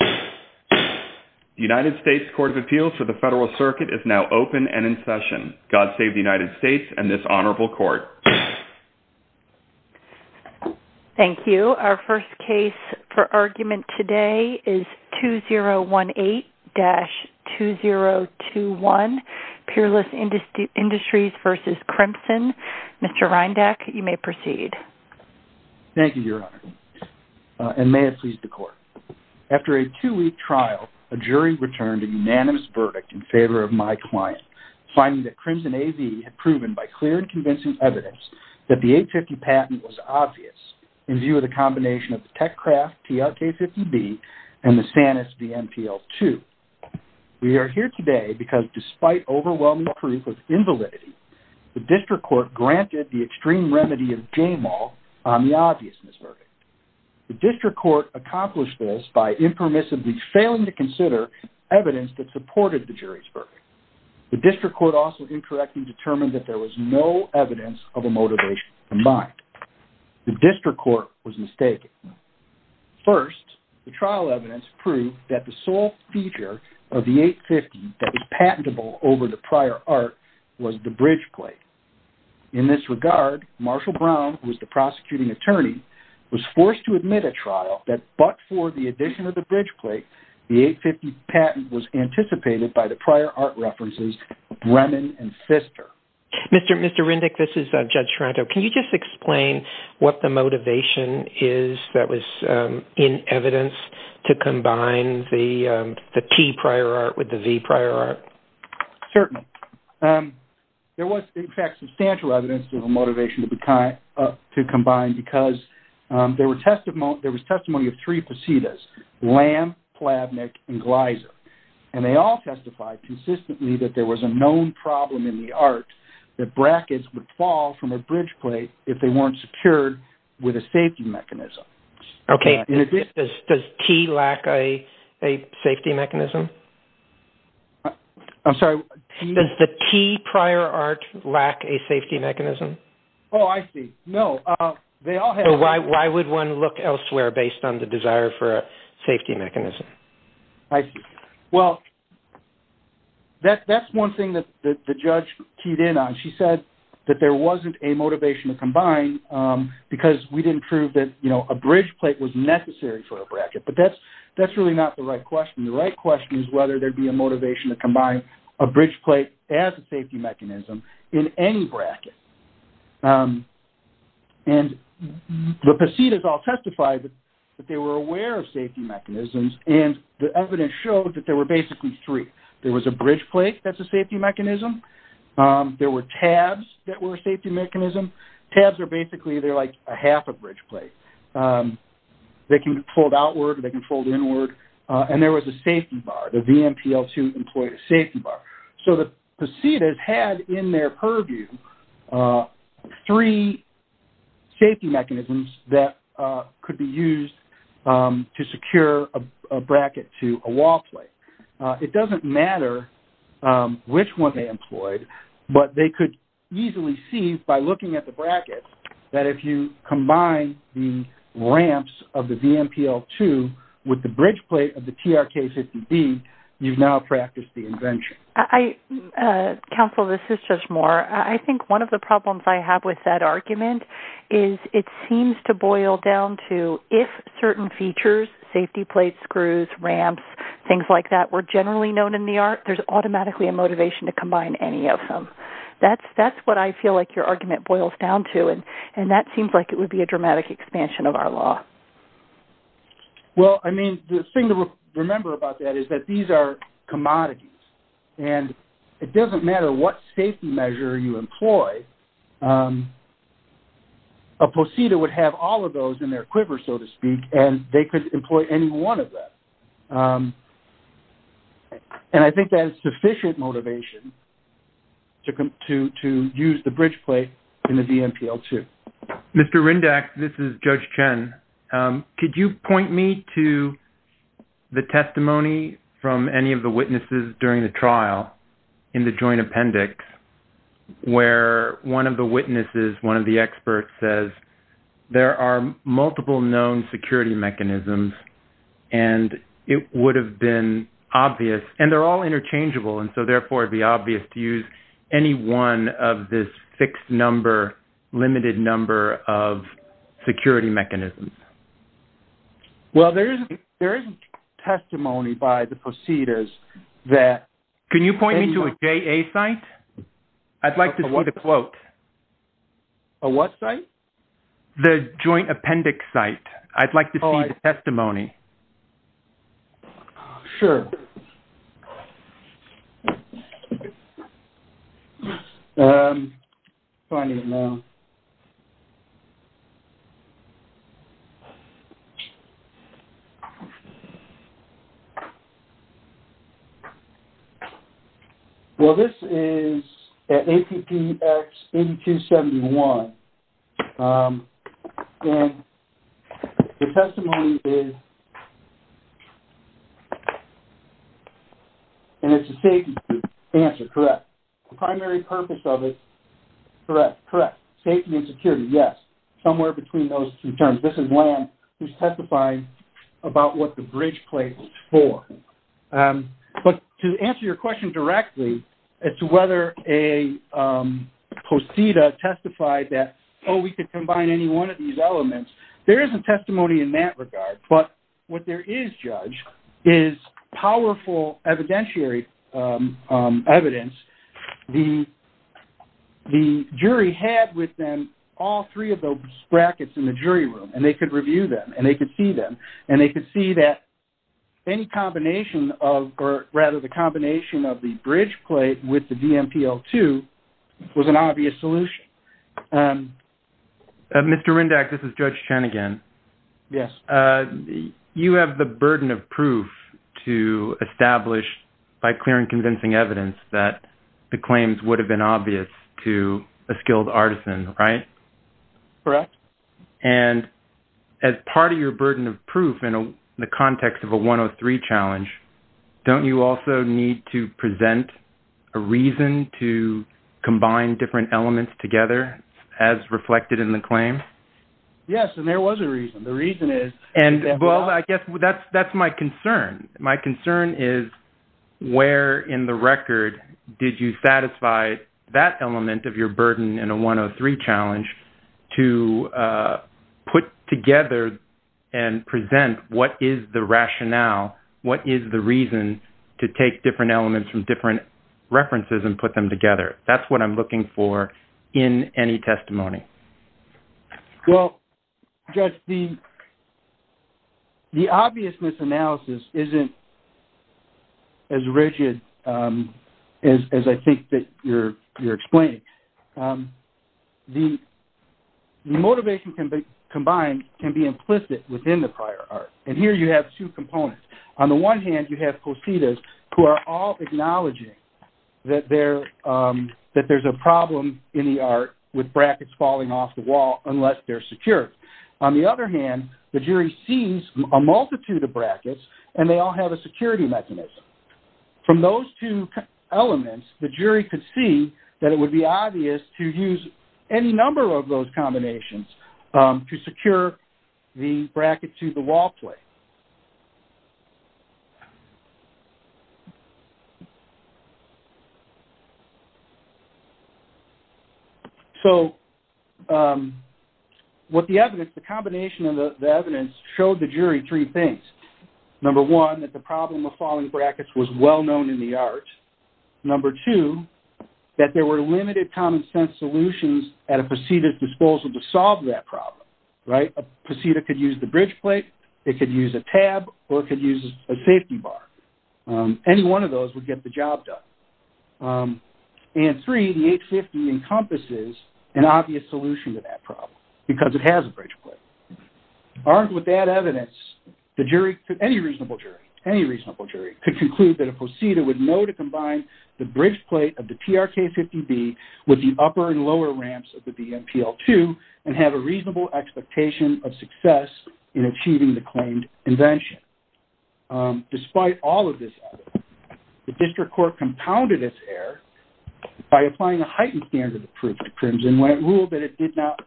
The United States Court of Appeals for the Federal Circuit is now open and in session. God save the United States and this honorable court. Thank you. Our first case for argument today is 2018-2021, Peerless Industries v. Crimson. Mr. Reindach, you may proceed. Thank you, Your Honor. And may it please the court. After a two-week trial, a jury returned a unanimous verdict in favor of my client, finding that Crimson AV had proven by clear and convincing evidence that the 850 patent was obvious in view of the combination of the Techcraft TRK-50B and the Sanus DMTL-2. We are here today because despite overwhelming proof of invalidity, the district court granted the extreme remedy of J-MAL on the obviousness verdict. The district court accomplished this by impermissibly failing to consider evidence that supported the jury's verdict. The district court also incorrectly determined that there was no evidence of a motivation combined. The district court was mistaken. First, the trial evidence proved that the sole feature of the 850 that was patentable over the prior art was the bridge plate. In this regard, Marshall Brown, who was the prosecuting attorney, was forced to admit at trial that but for the addition of the bridge plate, the 850 patent was anticipated by the prior art references of Bremen and Pfister. Mr. Reindach, this is Judge Toronto. Can you just explain what the motivation is that was in evidence to combine the T prior art with the V prior art? Certainly. There was, in fact, substantial evidence of a motivation to combine because there was testimony of three facetas, Lamb, Plavnik, and Gleiser, and they all testified consistently that there was a known problem in the art that brackets would fall from a bridge plate if they weren't secured with a safety mechanism. Okay. Does T lack a safety mechanism? I'm sorry. Does the T prior art lack a safety mechanism? Oh, I see. No. Why would one look elsewhere based on the desire for a safety mechanism? I see. Well, that's one thing that the judge teed in on. She said that there wasn't a motivation to combine because we didn't prove that a bridge plate was necessary for a bracket, but that's really not the right question. The right question is whether there'd be a motivation to combine a bridge plate as a safety mechanism in any bracket. And the facetas all testified that they were aware of safety mechanisms, and the evidence showed that there were basically three. There was a bridge plate that's a safety mechanism. There were tabs that were a safety mechanism. Tabs are basically, they're like a half a bridge plate. They can fold outward or they can fold inward, and there was a safety bar. The VMPL-2 employed a safety bar. So the facetas had in their purview three safety mechanisms that could be used to secure a bracket to a wall plate. It doesn't matter which one they employed, but they could easily see by looking at the brackets that if you combine the ramps of the VMPL-2 with the bridge plate of the TRK-50B, you've now practiced the invention. Counsel, this is just more. I think one of the problems I have with that argument is it seems to boil down to if certain features, safety plates, screws, ramps, things like that, were generally known in the art, there's automatically a motivation to combine any of them. That's what I feel like your argument boils down to, and that seems like it would be a dramatic expansion of our law. Well, I mean, the thing to remember about that is that these are commodities, and it doesn't matter what safety measure you employ, a poseta would have all of those in their quiver, so to speak, and they could employ any one of them. And I think that is sufficient motivation to use the bridge plate in the VMPL-2. Mr. Rindach, this is Judge Chen. Could you point me to the testimony from any of the witnesses during the trial in the joint appendix where one of the witnesses, one of the experts, says there are multiple known security mechanisms and it would have been obvious, and they're all interchangeable, and so therefore it would be obvious to use any one of this fixed number, limited number of security mechanisms? Well, there is testimony by the posetas that... Can you point me to a JA site? I'd like to see the quote. A what site? The joint appendix site. I'd like to see the testimony. Sure. Okay. Let me find it now. Well, this is at APPX 8271. And the testimony is... And it's a safety answer, correct. The primary purpose of it, correct, correct. Safety and security, yes. Somewhere between those two terms. This is one who's testifying about what the bridge plate is for. But to answer your question directly, as to whether a poseta testified that, oh, we could combine any one of these elements, there isn't testimony in that regard. But what there is, Judge, is powerful evidentiary evidence. The jury had with them all three of those brackets in the jury room and they could review them and they could see them was an obvious solution. Mr. Rindach, this is Judge Chen again. Yes. You have the burden of proof to establish by clear and convincing evidence that the claims would have been obvious to a skilled artisan, right? Correct. And as part of your burden of proof in the context of a 103 challenge, don't you also need to present a reason to combine different elements together, as reflected in the claim? Yes, and there was a reason. The reason is... Well, I guess that's my concern. My concern is where in the record did you satisfy that element of your burden in a 103 challenge to put together and present what is the rationale, what is the reason to take different elements from different references and put them together? That's what I'm looking for in any testimony. Well, Judge, the obvious misanalysis isn't as rigid as I think that you're explaining. The motivation combined can be implicit within the prior art. And here you have two components. On the one hand, you have cositas who are all acknowledging that there's a problem in the art with brackets falling off the wall unless they're secure. On the other hand, the jury sees a multitude of brackets, and they all have a security mechanism. From those two elements, the jury could see that it would be obvious to use any number of those combinations to secure the bracket to the wall plate. So what the evidence, the combination of the evidence showed the jury three things. Number one, that the problem of falling brackets was well-known in the art. Number two, that there were limited common-sense solutions at a cosita's disposal to solve that problem. A cosita could use the bridge plate, it could use a tab, or it could use a safety bar. Any one of those would get the job done. And three, the 850 encompasses an obvious solution to that problem because it has a bridge plate. Armed with that evidence, the jury, any reasonable jury, any reasonable jury, could conclude that a cosita would know to combine the bridge plate of the TRK-50B with the upper and lower ramps of the BMPL-2 and have a reasonable expectation of success in achieving the claimed invention. Despite all of this evidence, the district court compounded its error by applying a heightened standard of proof to Crimson when it ruled that it did not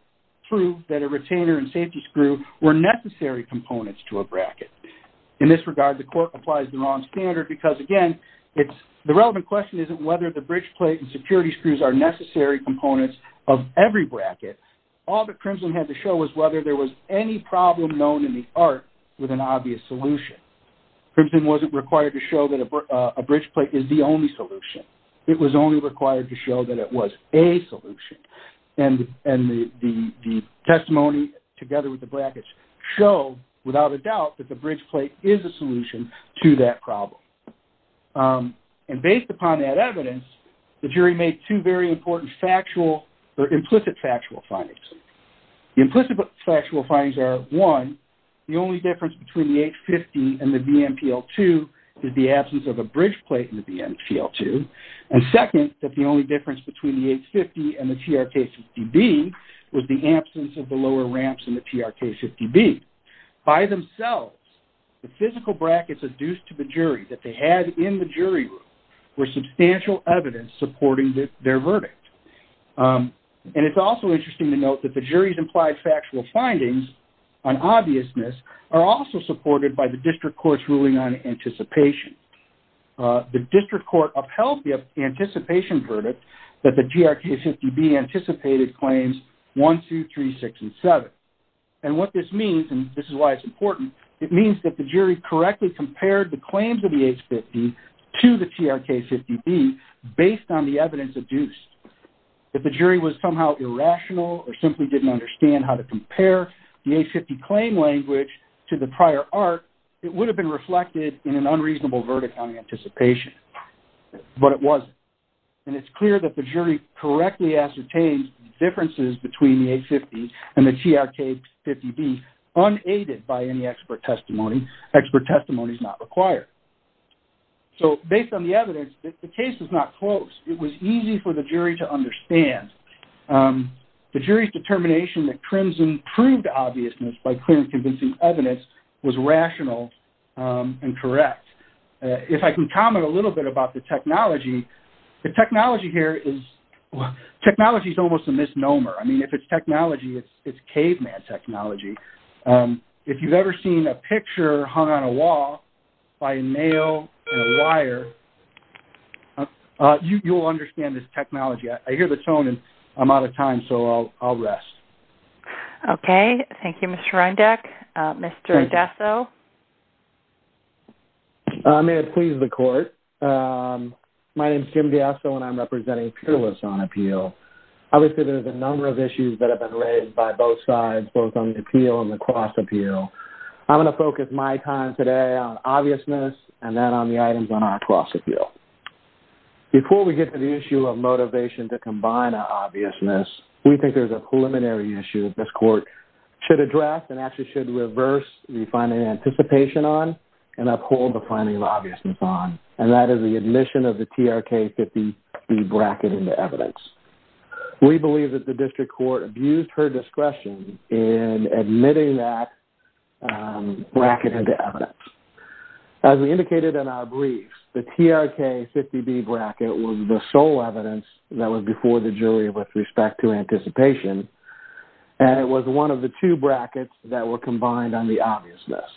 prove that a retainer and safety screw were necessary components to a bracket. In this regard, the court applies the wrong standard because, again, the relevant question isn't whether the bridge plate and security screws are necessary components of every bracket. All that Crimson had to show was whether there was any problem known in the art with an obvious solution. Crimson wasn't required to show that a bridge plate is the only solution. It was only required to show that it was a solution. And the testimony, together with the brackets, showed, without a doubt, that the bridge plate is a solution to that problem. And based upon that evidence, the jury made two very important factual or implicit factual findings. The implicit factual findings are, one, the only difference between the H-50 and the BMPL-2 is the absence of a bridge plate in the BMPL-2, and second, that the only difference between the H-50 and the TRK-50B was the absence of the lower ramps in the TRK-50B. By themselves, the physical brackets adduced to the jury that they had in the jury room were substantial evidence supporting their verdict. And it's also interesting to note that the jury's implied factual findings on obviousness are also supported by the district court's ruling on anticipation. The district court upheld the anticipation verdict that the TRK-50B anticipated claims 1, 2, 3, 6, and 7. And what this means, and this is why it's important, it means that the jury correctly compared the claims of the H-50 to the TRK-50B based on the evidence adduced. If the jury was somehow irrational or simply didn't understand how to compare the H-50 claim language to the prior art, it would have been reflected in an unreasonable verdict on anticipation. But it wasn't. And it's clear that the jury correctly ascertained the differences between the H-50 and the TRK-50B unaided by any expert testimony. Expert testimony is not required. So based on the evidence, the case is not close. It was easy for the jury to understand. The jury's determination that Crimson proved obviousness by clearly convincing evidence was rational and correct. If I can comment a little bit about the technology, the technology here is almost a misnomer. I mean, if it's technology, it's caveman technology. If you've ever seen a picture hung on a wall by a nail and a wire, you'll understand this technology. I hear the tone and I'm out of time, so I'll rest. Okay. Thank you, Mr. Ryndeck. Mr. Diaso? May it please the Court. My name is Jim Diaso, and I'm representing peerless on appeal. Obviously, there's a number of issues that have been raised by both sides, both on the appeal and the cross-appeal. I'm going to focus my time today on obviousness and then on the items on our cross-appeal. Before we get to the issue of motivation to combine our obviousness, we think there's a preliminary issue that this Court should address and actually should reverse the finding of anticipation on and uphold the finding of obviousness on, and that is the admission of the TRK 50B bracket into evidence. We believe that the District Court abused her discretion in admitting that bracket into evidence. As we indicated in our brief, the TRK 50B bracket was the sole evidence that was before the jury with respect to anticipation, and it was one of the two brackets that were combined on the obviousness.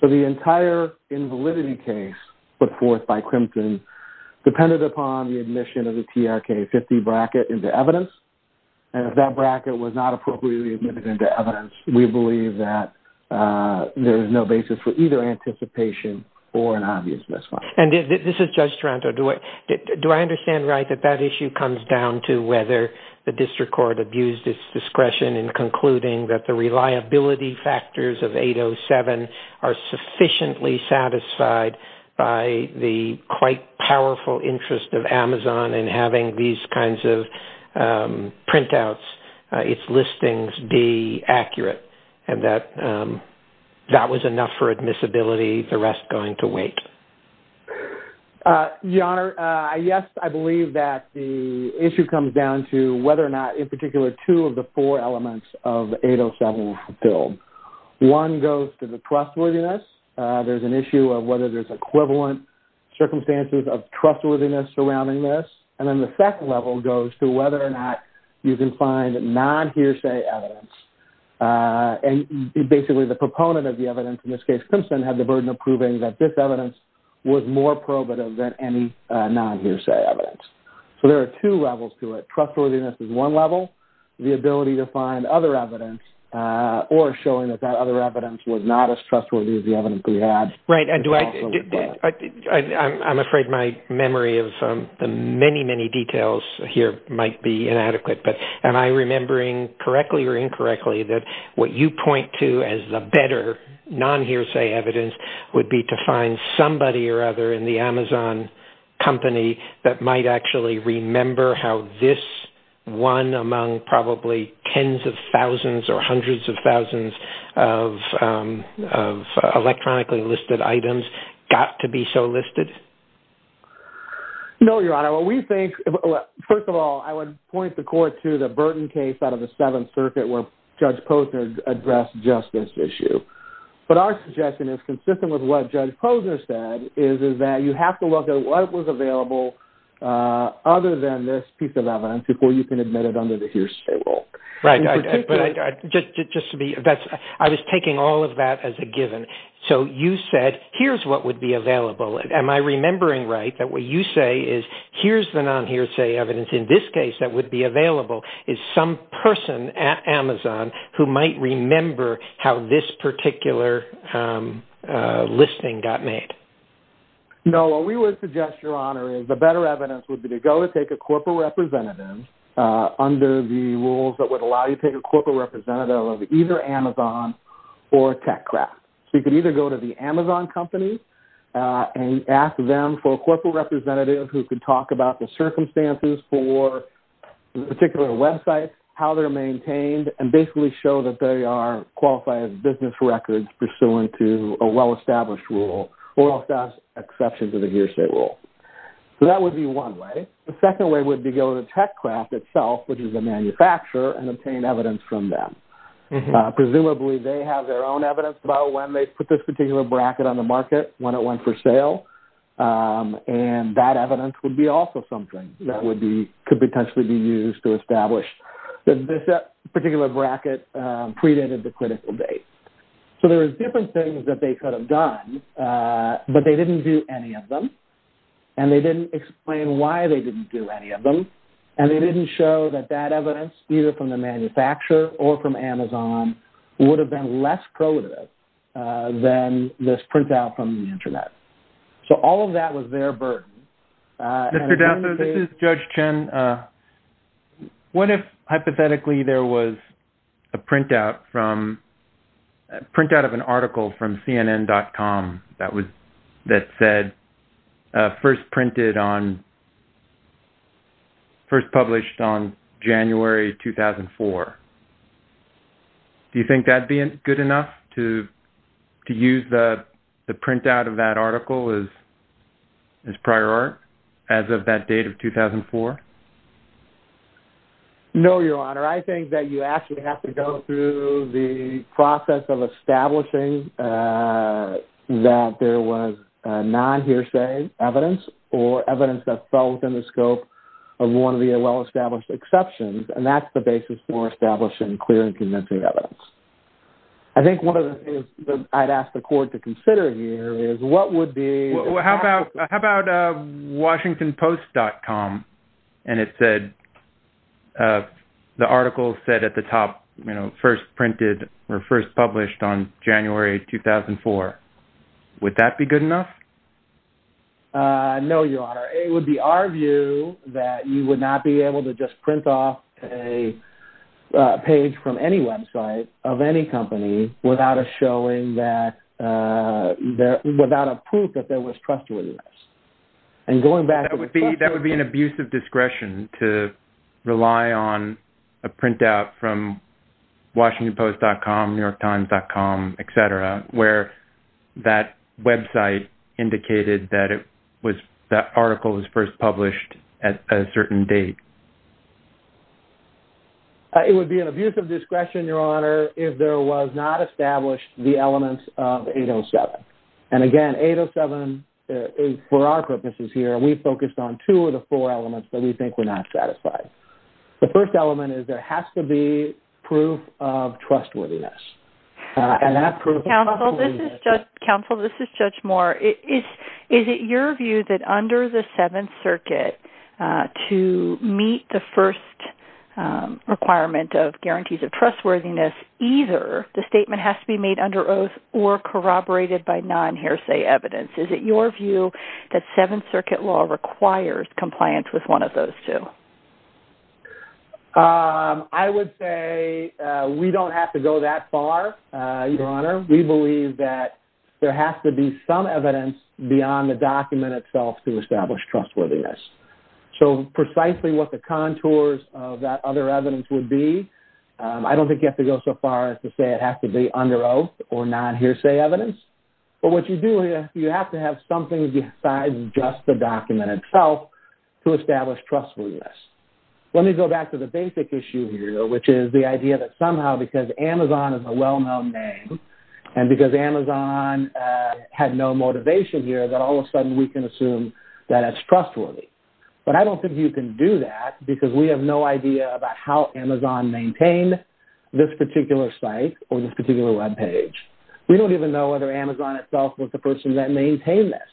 So the entire invalidity case put forth by Crimpton depended upon the admission of the TRK 50 bracket into evidence, and if that bracket was not appropriately admitted into evidence, we believe that there is no basis for either anticipation or an obviousness. This is Judge Taranto. Do I understand right that that issue comes down to whether the District Court abused its discretion in concluding that the reliability factors of 807 are sufficiently satisfied by the quite powerful interest of Amazon in having these kinds of printouts, its listings, be accurate, and that that was enough for admissibility, the rest going to wait? Your Honor, yes, I believe that the issue comes down to whether or not, in particular, two of the four elements of 807 are fulfilled. One goes to the trustworthiness. There's an issue of whether there's equivalent circumstances of trustworthiness surrounding this, and then the second level goes to whether or not you can find non-hearsay evidence, and basically the proponent of the evidence in this case, Judge Simpson, had the burden of proving that this evidence was more probative than any non-hearsay evidence. So there are two levels to it. Trustworthiness is one level, the ability to find other evidence, or showing that that other evidence was not as trustworthy as the evidence we had. Right. I'm afraid my memory of the many, many details here might be inadequate, but am I remembering correctly or incorrectly that what you point to as the better non-hearsay evidence would be to find somebody or other in the Amazon company that might actually remember how this one among probably tens of thousands or hundreds of thousands of electronically listed items got to be so listed? No, Your Honor. First of all, I would point the court to the Burton case out of the Seventh Circuit where Judge Posner addressed just this issue. But our suggestion is consistent with what Judge Posner said, is that you have to look at what was available other than this piece of evidence before you can admit it under the hearsay rule. Right. Just to be, I was taking all of that as a given. So you said here's what would be available. Am I remembering right that what you say is here's the non-hearsay evidence in this case that would be available is some person at Amazon who might remember how this particular listing got made? No, what we would suggest, Your Honor, is the better evidence would be to go and take a corporate representative under the rules that would allow you to take a corporate representative of either Amazon or TechCraft. So you could either go to the Amazon company and ask them for a corporate representative who could talk about the circumstances for a particular website, how they're maintained, and basically show that they are qualified business records pursuant to a well-established rule or exceptions to the hearsay rule. So that would be one way. The second way would be to go to TechCraft itself, which is a manufacturer, and obtain evidence from them. Presumably they have their own evidence about when they put this particular bracket on the market, when it went for sale. And that evidence would be also something that could potentially be used to establish that this particular bracket predated the critical date. So there are different things that they could have done, but they didn't do any of them. And they didn't explain why they didn't do any of them. And they didn't show that that evidence, either from the manufacturer or from Amazon, would have been less coded than this printout from the Internet. So all of that was their burden. This is Judge Chen. What if, hypothetically, there was a printout of an article from CNN.com that said, first printed on, first published on January 2004? Do you think that would be good enough to use the printout of that article as prior art, as of that date of 2004? No, Your Honor. I think that you actually have to go through the process of establishing that there was non-hearsay evidence or evidence that fell within the scope of one of the well-established exceptions. And that's the basis for establishing clear and convincing evidence. I think one of the things that I'd ask the Court to consider here is what would be... How about WashingtonPost.com? And it said, the article said at the top, first printed or first published on January 2004. Would that be good enough? No, Your Honor. It would be our view that you would not be able to just print off a page from any website of any company without a proof that there was trustworthiness. That would be an abuse of discretion to rely on a printout from WashingtonPost.com, NewYorkTimes.com, et cetera, where that website indicated that that article was first published at a certain date. It would be an abuse of discretion, Your Honor, if there was not established the elements of 807. And again, 807, for our purposes here, we focused on two of the four elements that we think were not satisfied. The first element is there has to be proof of trustworthiness. Counsel, this is Judge Moore. Is it your view that under the Seventh Circuit, to meet the first requirement of guarantees of trustworthiness, either the statement has to be made under oath or corroborated by non-Hairsay evidence? Is it your view that Seventh Circuit law requires compliance with one of those two? I would say we don't have to go that far, Your Honor. We believe that there has to be some evidence beyond the document itself to establish trustworthiness. So precisely what the contours of that other evidence would be, I don't think you have to go so far as to say it has to be under oath or non-Hairsay evidence. But what you do is you have to have something besides just the document itself to establish trustworthiness. Let me go back to the basic issue here, which is the idea that somehow because Amazon is a well-known name and because Amazon had no motivation here, that all of a sudden we can assume that it's trustworthy. But I don't think you can do that because we have no idea about how Amazon maintained this particular site or this particular Web page. We don't even know whether Amazon itself was the person that maintained this.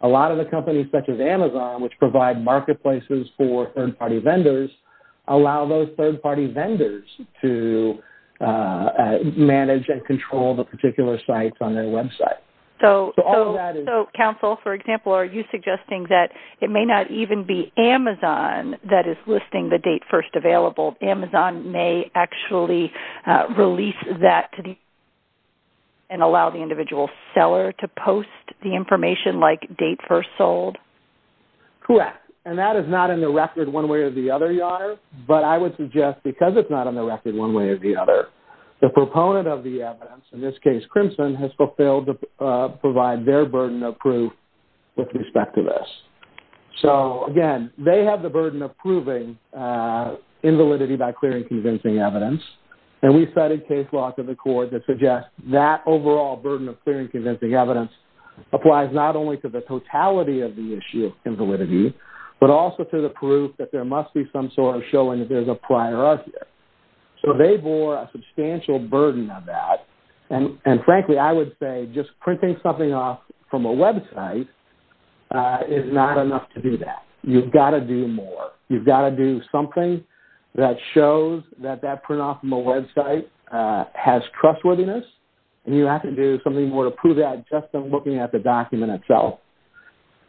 A lot of the companies such as Amazon, which provide marketplaces for third-party vendors, allow those third-party vendors to manage and control the particular sites on their Web site. So counsel, for example, are you suggesting that it may not even be Amazon that is listing the date first available? Amazon may actually release that to the individual and allow the individual seller to post the information like date first sold? Correct. And that is not in the record one way or the other, Your Honor. But I would suggest because it's not in the record one way or the other, the proponent of the evidence, in this case Crimson, has failed to provide their burden of proof with respect to this. So, again, they have the burden of proving invalidity by clearing convincing evidence. And we've studied case law to the court that suggests that overall burden of clearing convincing evidence applies not only to the totality of the issue of invalidity, but also to the proof that there must be some sort of showing that there's a prior argument. So they bore a substantial burden on that. And, frankly, I would say just printing something off from a Web site is not enough to do that. You've got to do more. You've got to do something that shows that that print off from a Web site has trustworthiness, and you have to do something more to prove that just by looking at the document itself.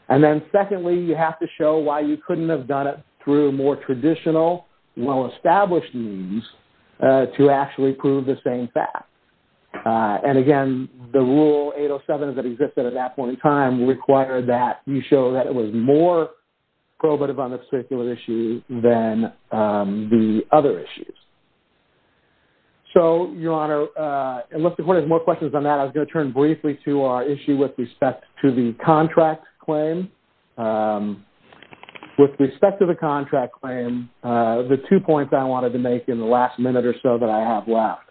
And then, secondly, you have to show why you couldn't have done it through more traditional, well-established means to actually prove the same fact. And, again, the Rule 807 that existed at that point in time required that you show that it was more probative on this particular issue than the other issues. So, Your Honor, unless the court has more questions on that, I was going to turn briefly to our issue with respect to the contract claim. With respect to the contract claim, the two points I wanted to make in the last minute or so that I have left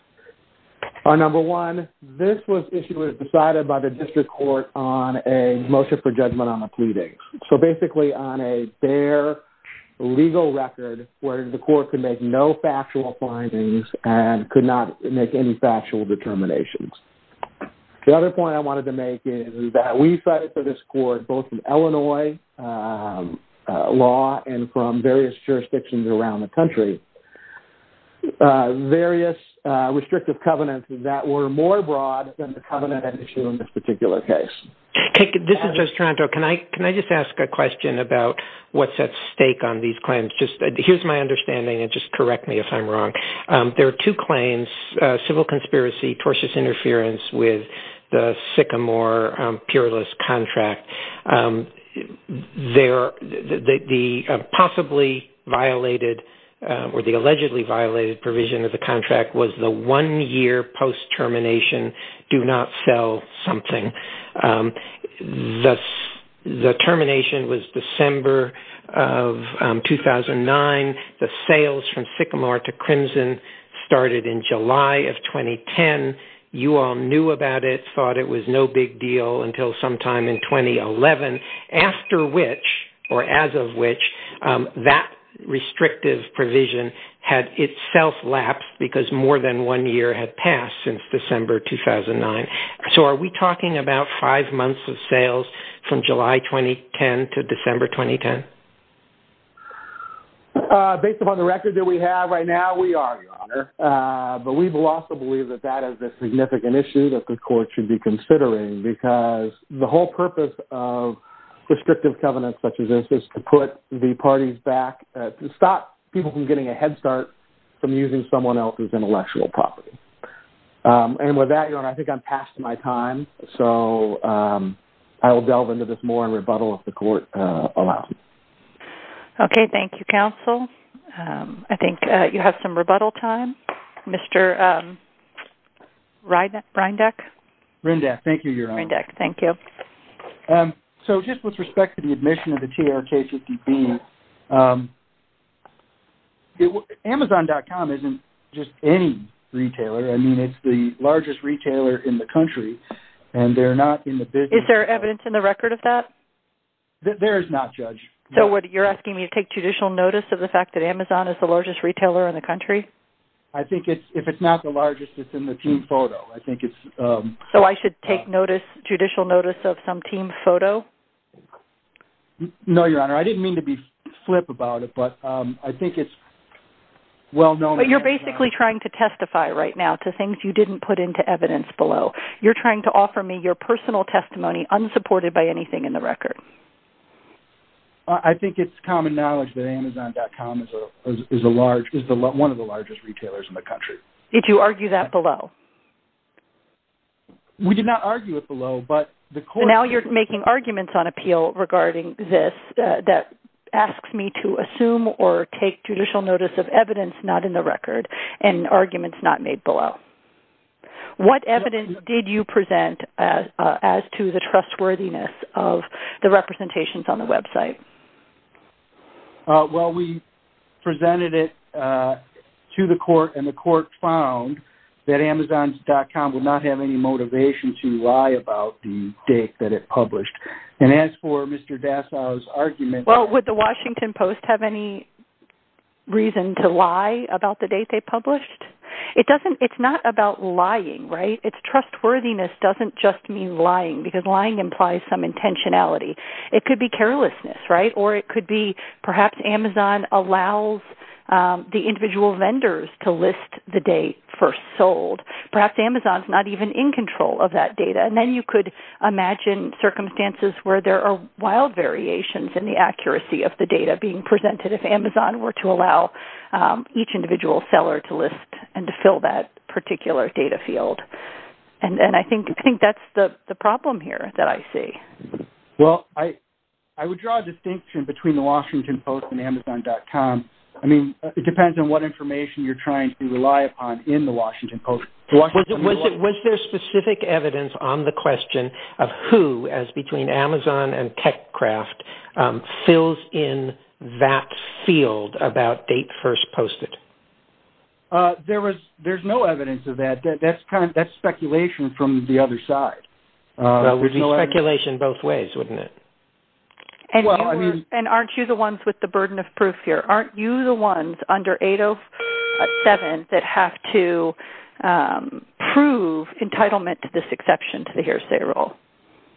are, number one, this was issued as decided by the district court on a motion for judgment on a pleading. So, basically, on a fair legal record where the court could make no factual findings and could not make any factual determinations. The other point I wanted to make is that we cited for this court both in Illinois law and from various jurisdictions around the country various restrictive covenants that were more broad than the covenant issue in this particular case. This is Judge Taranto. Can I just ask a question about what's at stake on these claims? Just here's my understanding, and just correct me if I'm wrong. There are two claims, civil conspiracy, tortuous interference with the Sycamore peerless contract. The possibly violated or the allegedly violated provision of the contract was the one-year post-termination do not sell something. The termination was December of 2009. The sales from Sycamore to Crimson started in July of 2010. You all knew about it, thought it was no big deal until sometime in 2011, after which, or as of which, that restrictive provision had itself lapsed because more than one year had passed since December 2009. So are we talking about five months of sales from July 2010 to December 2010? Based upon the record that we have right now, we are, Your Honor. But we will also believe that that is a significant issue that the court should be considering because the whole purpose of restrictive covenants such as this is to put the parties back, to stop people from getting a head start from using someone else's intellectual property. And with that, Your Honor, I think I'm past my time. So I will delve into this more in rebuttal if the court allows me. Okay. Thank you, counsel. I think you have some rebuttal time. Mr. Rindeck? Rindeck. Thank you, Your Honor. Rindeck. Thank you. So just with respect to the admission of the TRK-50B, Amazon.com isn't just any retailer. I mean, it's the largest retailer in the country, and they're not in the business. Is there evidence in the record of that? There is not, Judge. So you're asking me to take judicial notice of the fact that Amazon is the largest retailer in the country? I think if it's not the largest, it's in the team photo. So I should take judicial notice of some team photo? No, Your Honor. I didn't mean to be flip about it, but I think it's well known. But you're basically trying to testify right now to things you didn't put into evidence below. You're trying to offer me your personal testimony unsupported by anything in the record. I think it's common knowledge that Amazon.com is one of the largest retailers in the country. Did you argue that below? We did not argue it below, but the court... So now you're making arguments on appeal regarding this that asks me to assume or take judicial notice of evidence not in the record and arguments not made below. What evidence did you present as to the trustworthiness of the representations on the website? Well, we presented it to the court, and the court found that Amazon.com would not have any motivation to lie about the date that it published. And as for Mr. Dasau's argument... Well, would The Washington Post have any reason to lie about the date they published? It's not about lying, right? It's trustworthiness doesn't just mean lying because lying implies some intentionality. It could be carelessness, right? Or it could be perhaps Amazon allows the individual vendors to list the date first sold. Perhaps Amazon's not even in control of that data. And then you could imagine circumstances where there are wild variations in the accuracy of the data being presented if Amazon were to allow each individual seller to list and to fill that particular data field. And I think that's the problem here that I see. Well, I would draw a distinction between The Washington Post and Amazon.com. I mean, it depends on what information you're trying to rely upon in The Washington Post. Was there specific evidence on the question of who, as between Amazon and TechCraft, fills in that field about date first posted? There's no evidence of that. That's speculation from the other side. Well, it would be speculation both ways, wouldn't it? And aren't you the ones with the burden of proof here? Aren't you the ones under 807 that have to prove entitlement to this exception to the hearsay rule?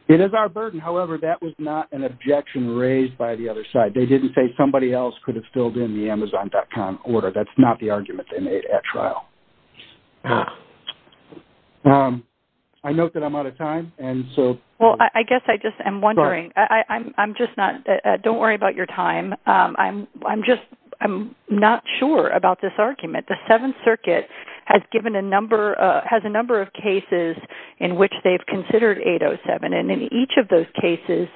It is our burden. However, that was not an objection raised by the other side. They didn't say somebody else could have filled in the Amazon.com order. That's not the argument they made at trial. I note that I'm out of time. Well, I guess I just am wondering. Don't worry about your time. I'm just not sure about this argument. The Seventh Circuit has a number of cases in which they've considered 807. And in each of those cases,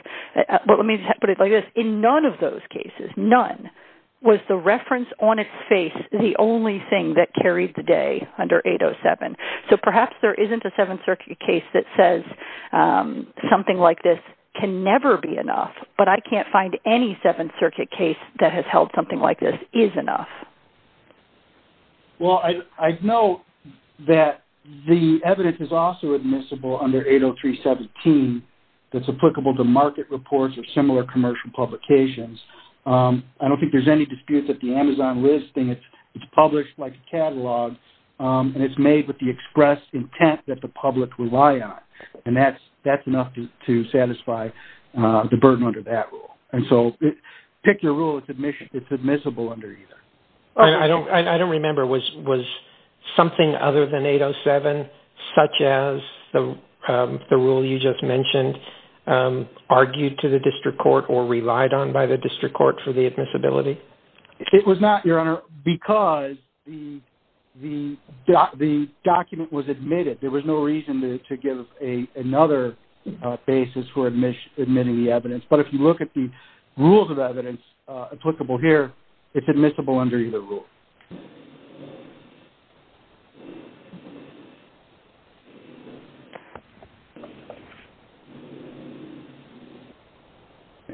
but let me put it like this. In none of those cases, none, was the reference on its face the only thing that carried the day under 807. So perhaps there isn't a Seventh Circuit case that says something like this can never be enough. But I can't find any Seventh Circuit case that has held something like this is enough. Well, I note that the evidence is also admissible under 803.17 that's applicable to market reports or similar commercial publications. I don't think there's any dispute that the Amazon listing is published like a catalog and it's made with the express intent that the public rely on. And that's enough to satisfy the burden under that rule. And so pick your rule. It's admissible under either. I don't remember. Was something other than 807, such as the rule you just mentioned, argued to the district court or relied on by the district court for the admissibility? It was not, Your Honor, because the document was admitted. There was no reason to give another basis for admitting the evidence. But if you look at the rules of evidence applicable here, it's admissible under either rule.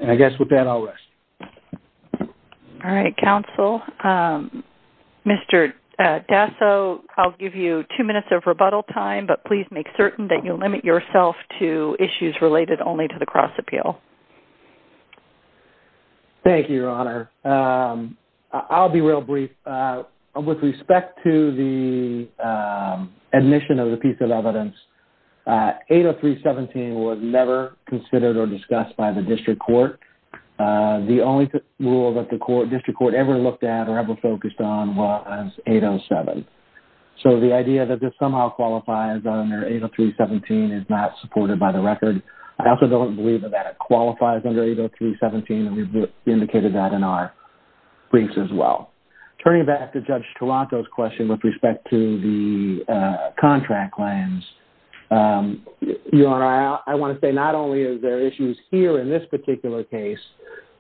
And I guess with that, I'll rest. All right, counsel. Mr. Dasso, I'll give you two minutes of rebuttal time, but please make certain that you limit yourself to issues related only to the cross appeal. Thank you, Your Honor. I'll be real brief. With respect to the admission of the piece of evidence, 803.17 was never considered or discussed by the district court. The only rule that the district court ever looked at or ever focused on was 807. So the idea that this somehow qualifies under 803.17 is not supported by the record. I also don't believe that that qualifies under 803.17, and we've indicated that in our briefs as well. Turning back to Judge Toronto's question with respect to the contract claims, Your Honor, I want to say not only is there issues here in this particular case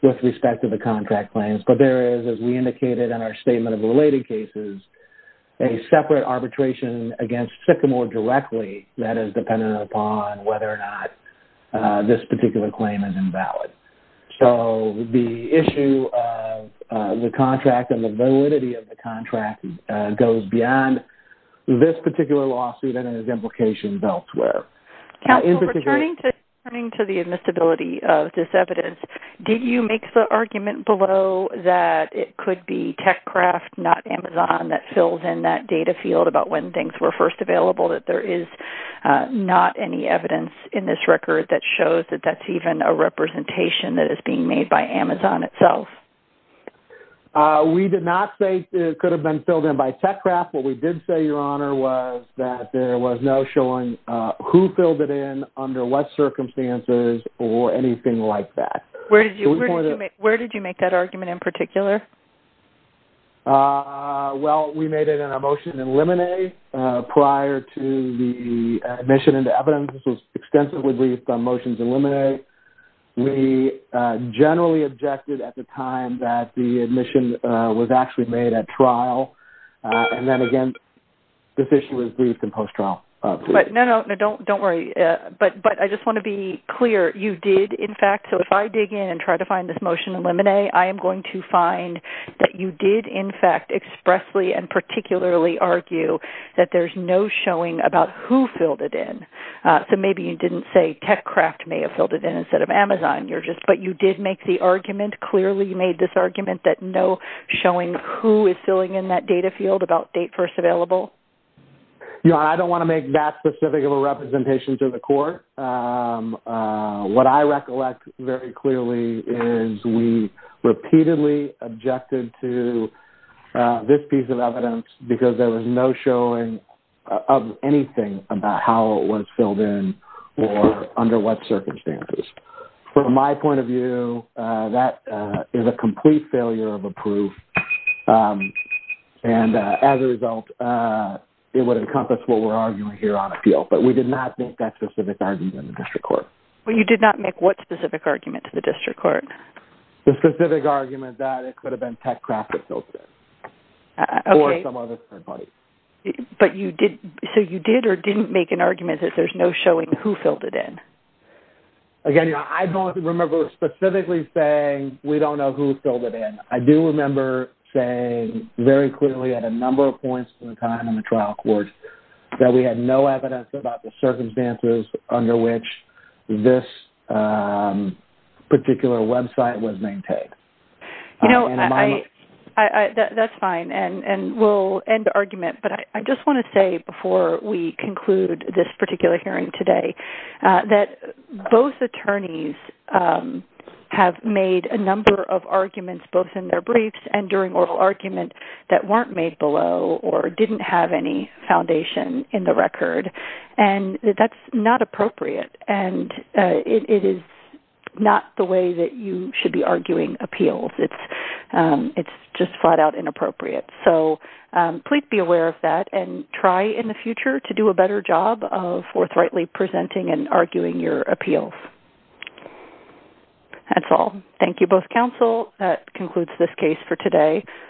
with respect to the contract claims, but there is, as we indicated in our statement of the related cases, a separate arbitration against Sycamore directly that is dependent upon whether or not this particular claim is invalid. So the issue of the contract and the validity of the contract goes beyond this particular lawsuit and its implications elsewhere. Counsel, returning to the admissibility of this evidence, did you make the argument below that it could be TechCraft, not Amazon, that filled in that data field about when things were first available, that there is not any evidence in this record that shows that that's even a representation that is being made by Amazon itself? We did not say it could have been filled in by TechCraft. What we did say, Your Honor, was that there was no showing who filled it in, under what circumstances, or anything like that. Where did you make that argument in particular? Well, we made it in a motion to eliminate prior to the admission into evidence. This was extensively briefed on motions to eliminate. We generally objected at the time that the admission was actually made at trial. And then again, this issue was briefed in post-trial. No, no, don't worry. But I just want to be clear. You did, in fact, so if I dig in and try to find this motion to eliminate, I am going to find that you did, in fact, expressly and particularly argue that there's no showing about who filled it in. So maybe you didn't say TechCraft may have filled it in instead of Amazon, but you did make the argument, clearly you made this argument, that no showing who is filling in that data field about date first available. Your Honor, I don't want to make that specific of a representation to the court. What I recollect very clearly is we repeatedly objected to this piece of evidence because there was no showing of anything about how it was filled in or under what circumstances. From my point of view, that is a complete failure of a proof. And as a result, it would encompass what we're arguing here on appeal. But we did not make that specific argument to the district court. Well, you did not make what specific argument to the district court? The specific argument that it could have been TechCraft that filled it in or some other third party. But you did, so you did or didn't make an argument that there's no showing who filled it in? Again, I don't remember specifically saying we don't know who filled it in. I do remember saying very clearly at a number of points in time in the trial court that we had no evidence about the circumstances under which this particular website was maintained. You know, that's fine, and we'll end the argument. But I just want to say before we conclude this particular hearing today that both attorneys have made a number of arguments both in their briefs and during oral argument that weren't made below or didn't have any foundation in the record. And that's not appropriate, and it is not the way that you should be arguing appeals. It's just flat out inappropriate. So please be aware of that and try in the future to do a better job of forthrightly presenting and arguing your appeals. That's all. Thank you both counsel. That concludes this case for today.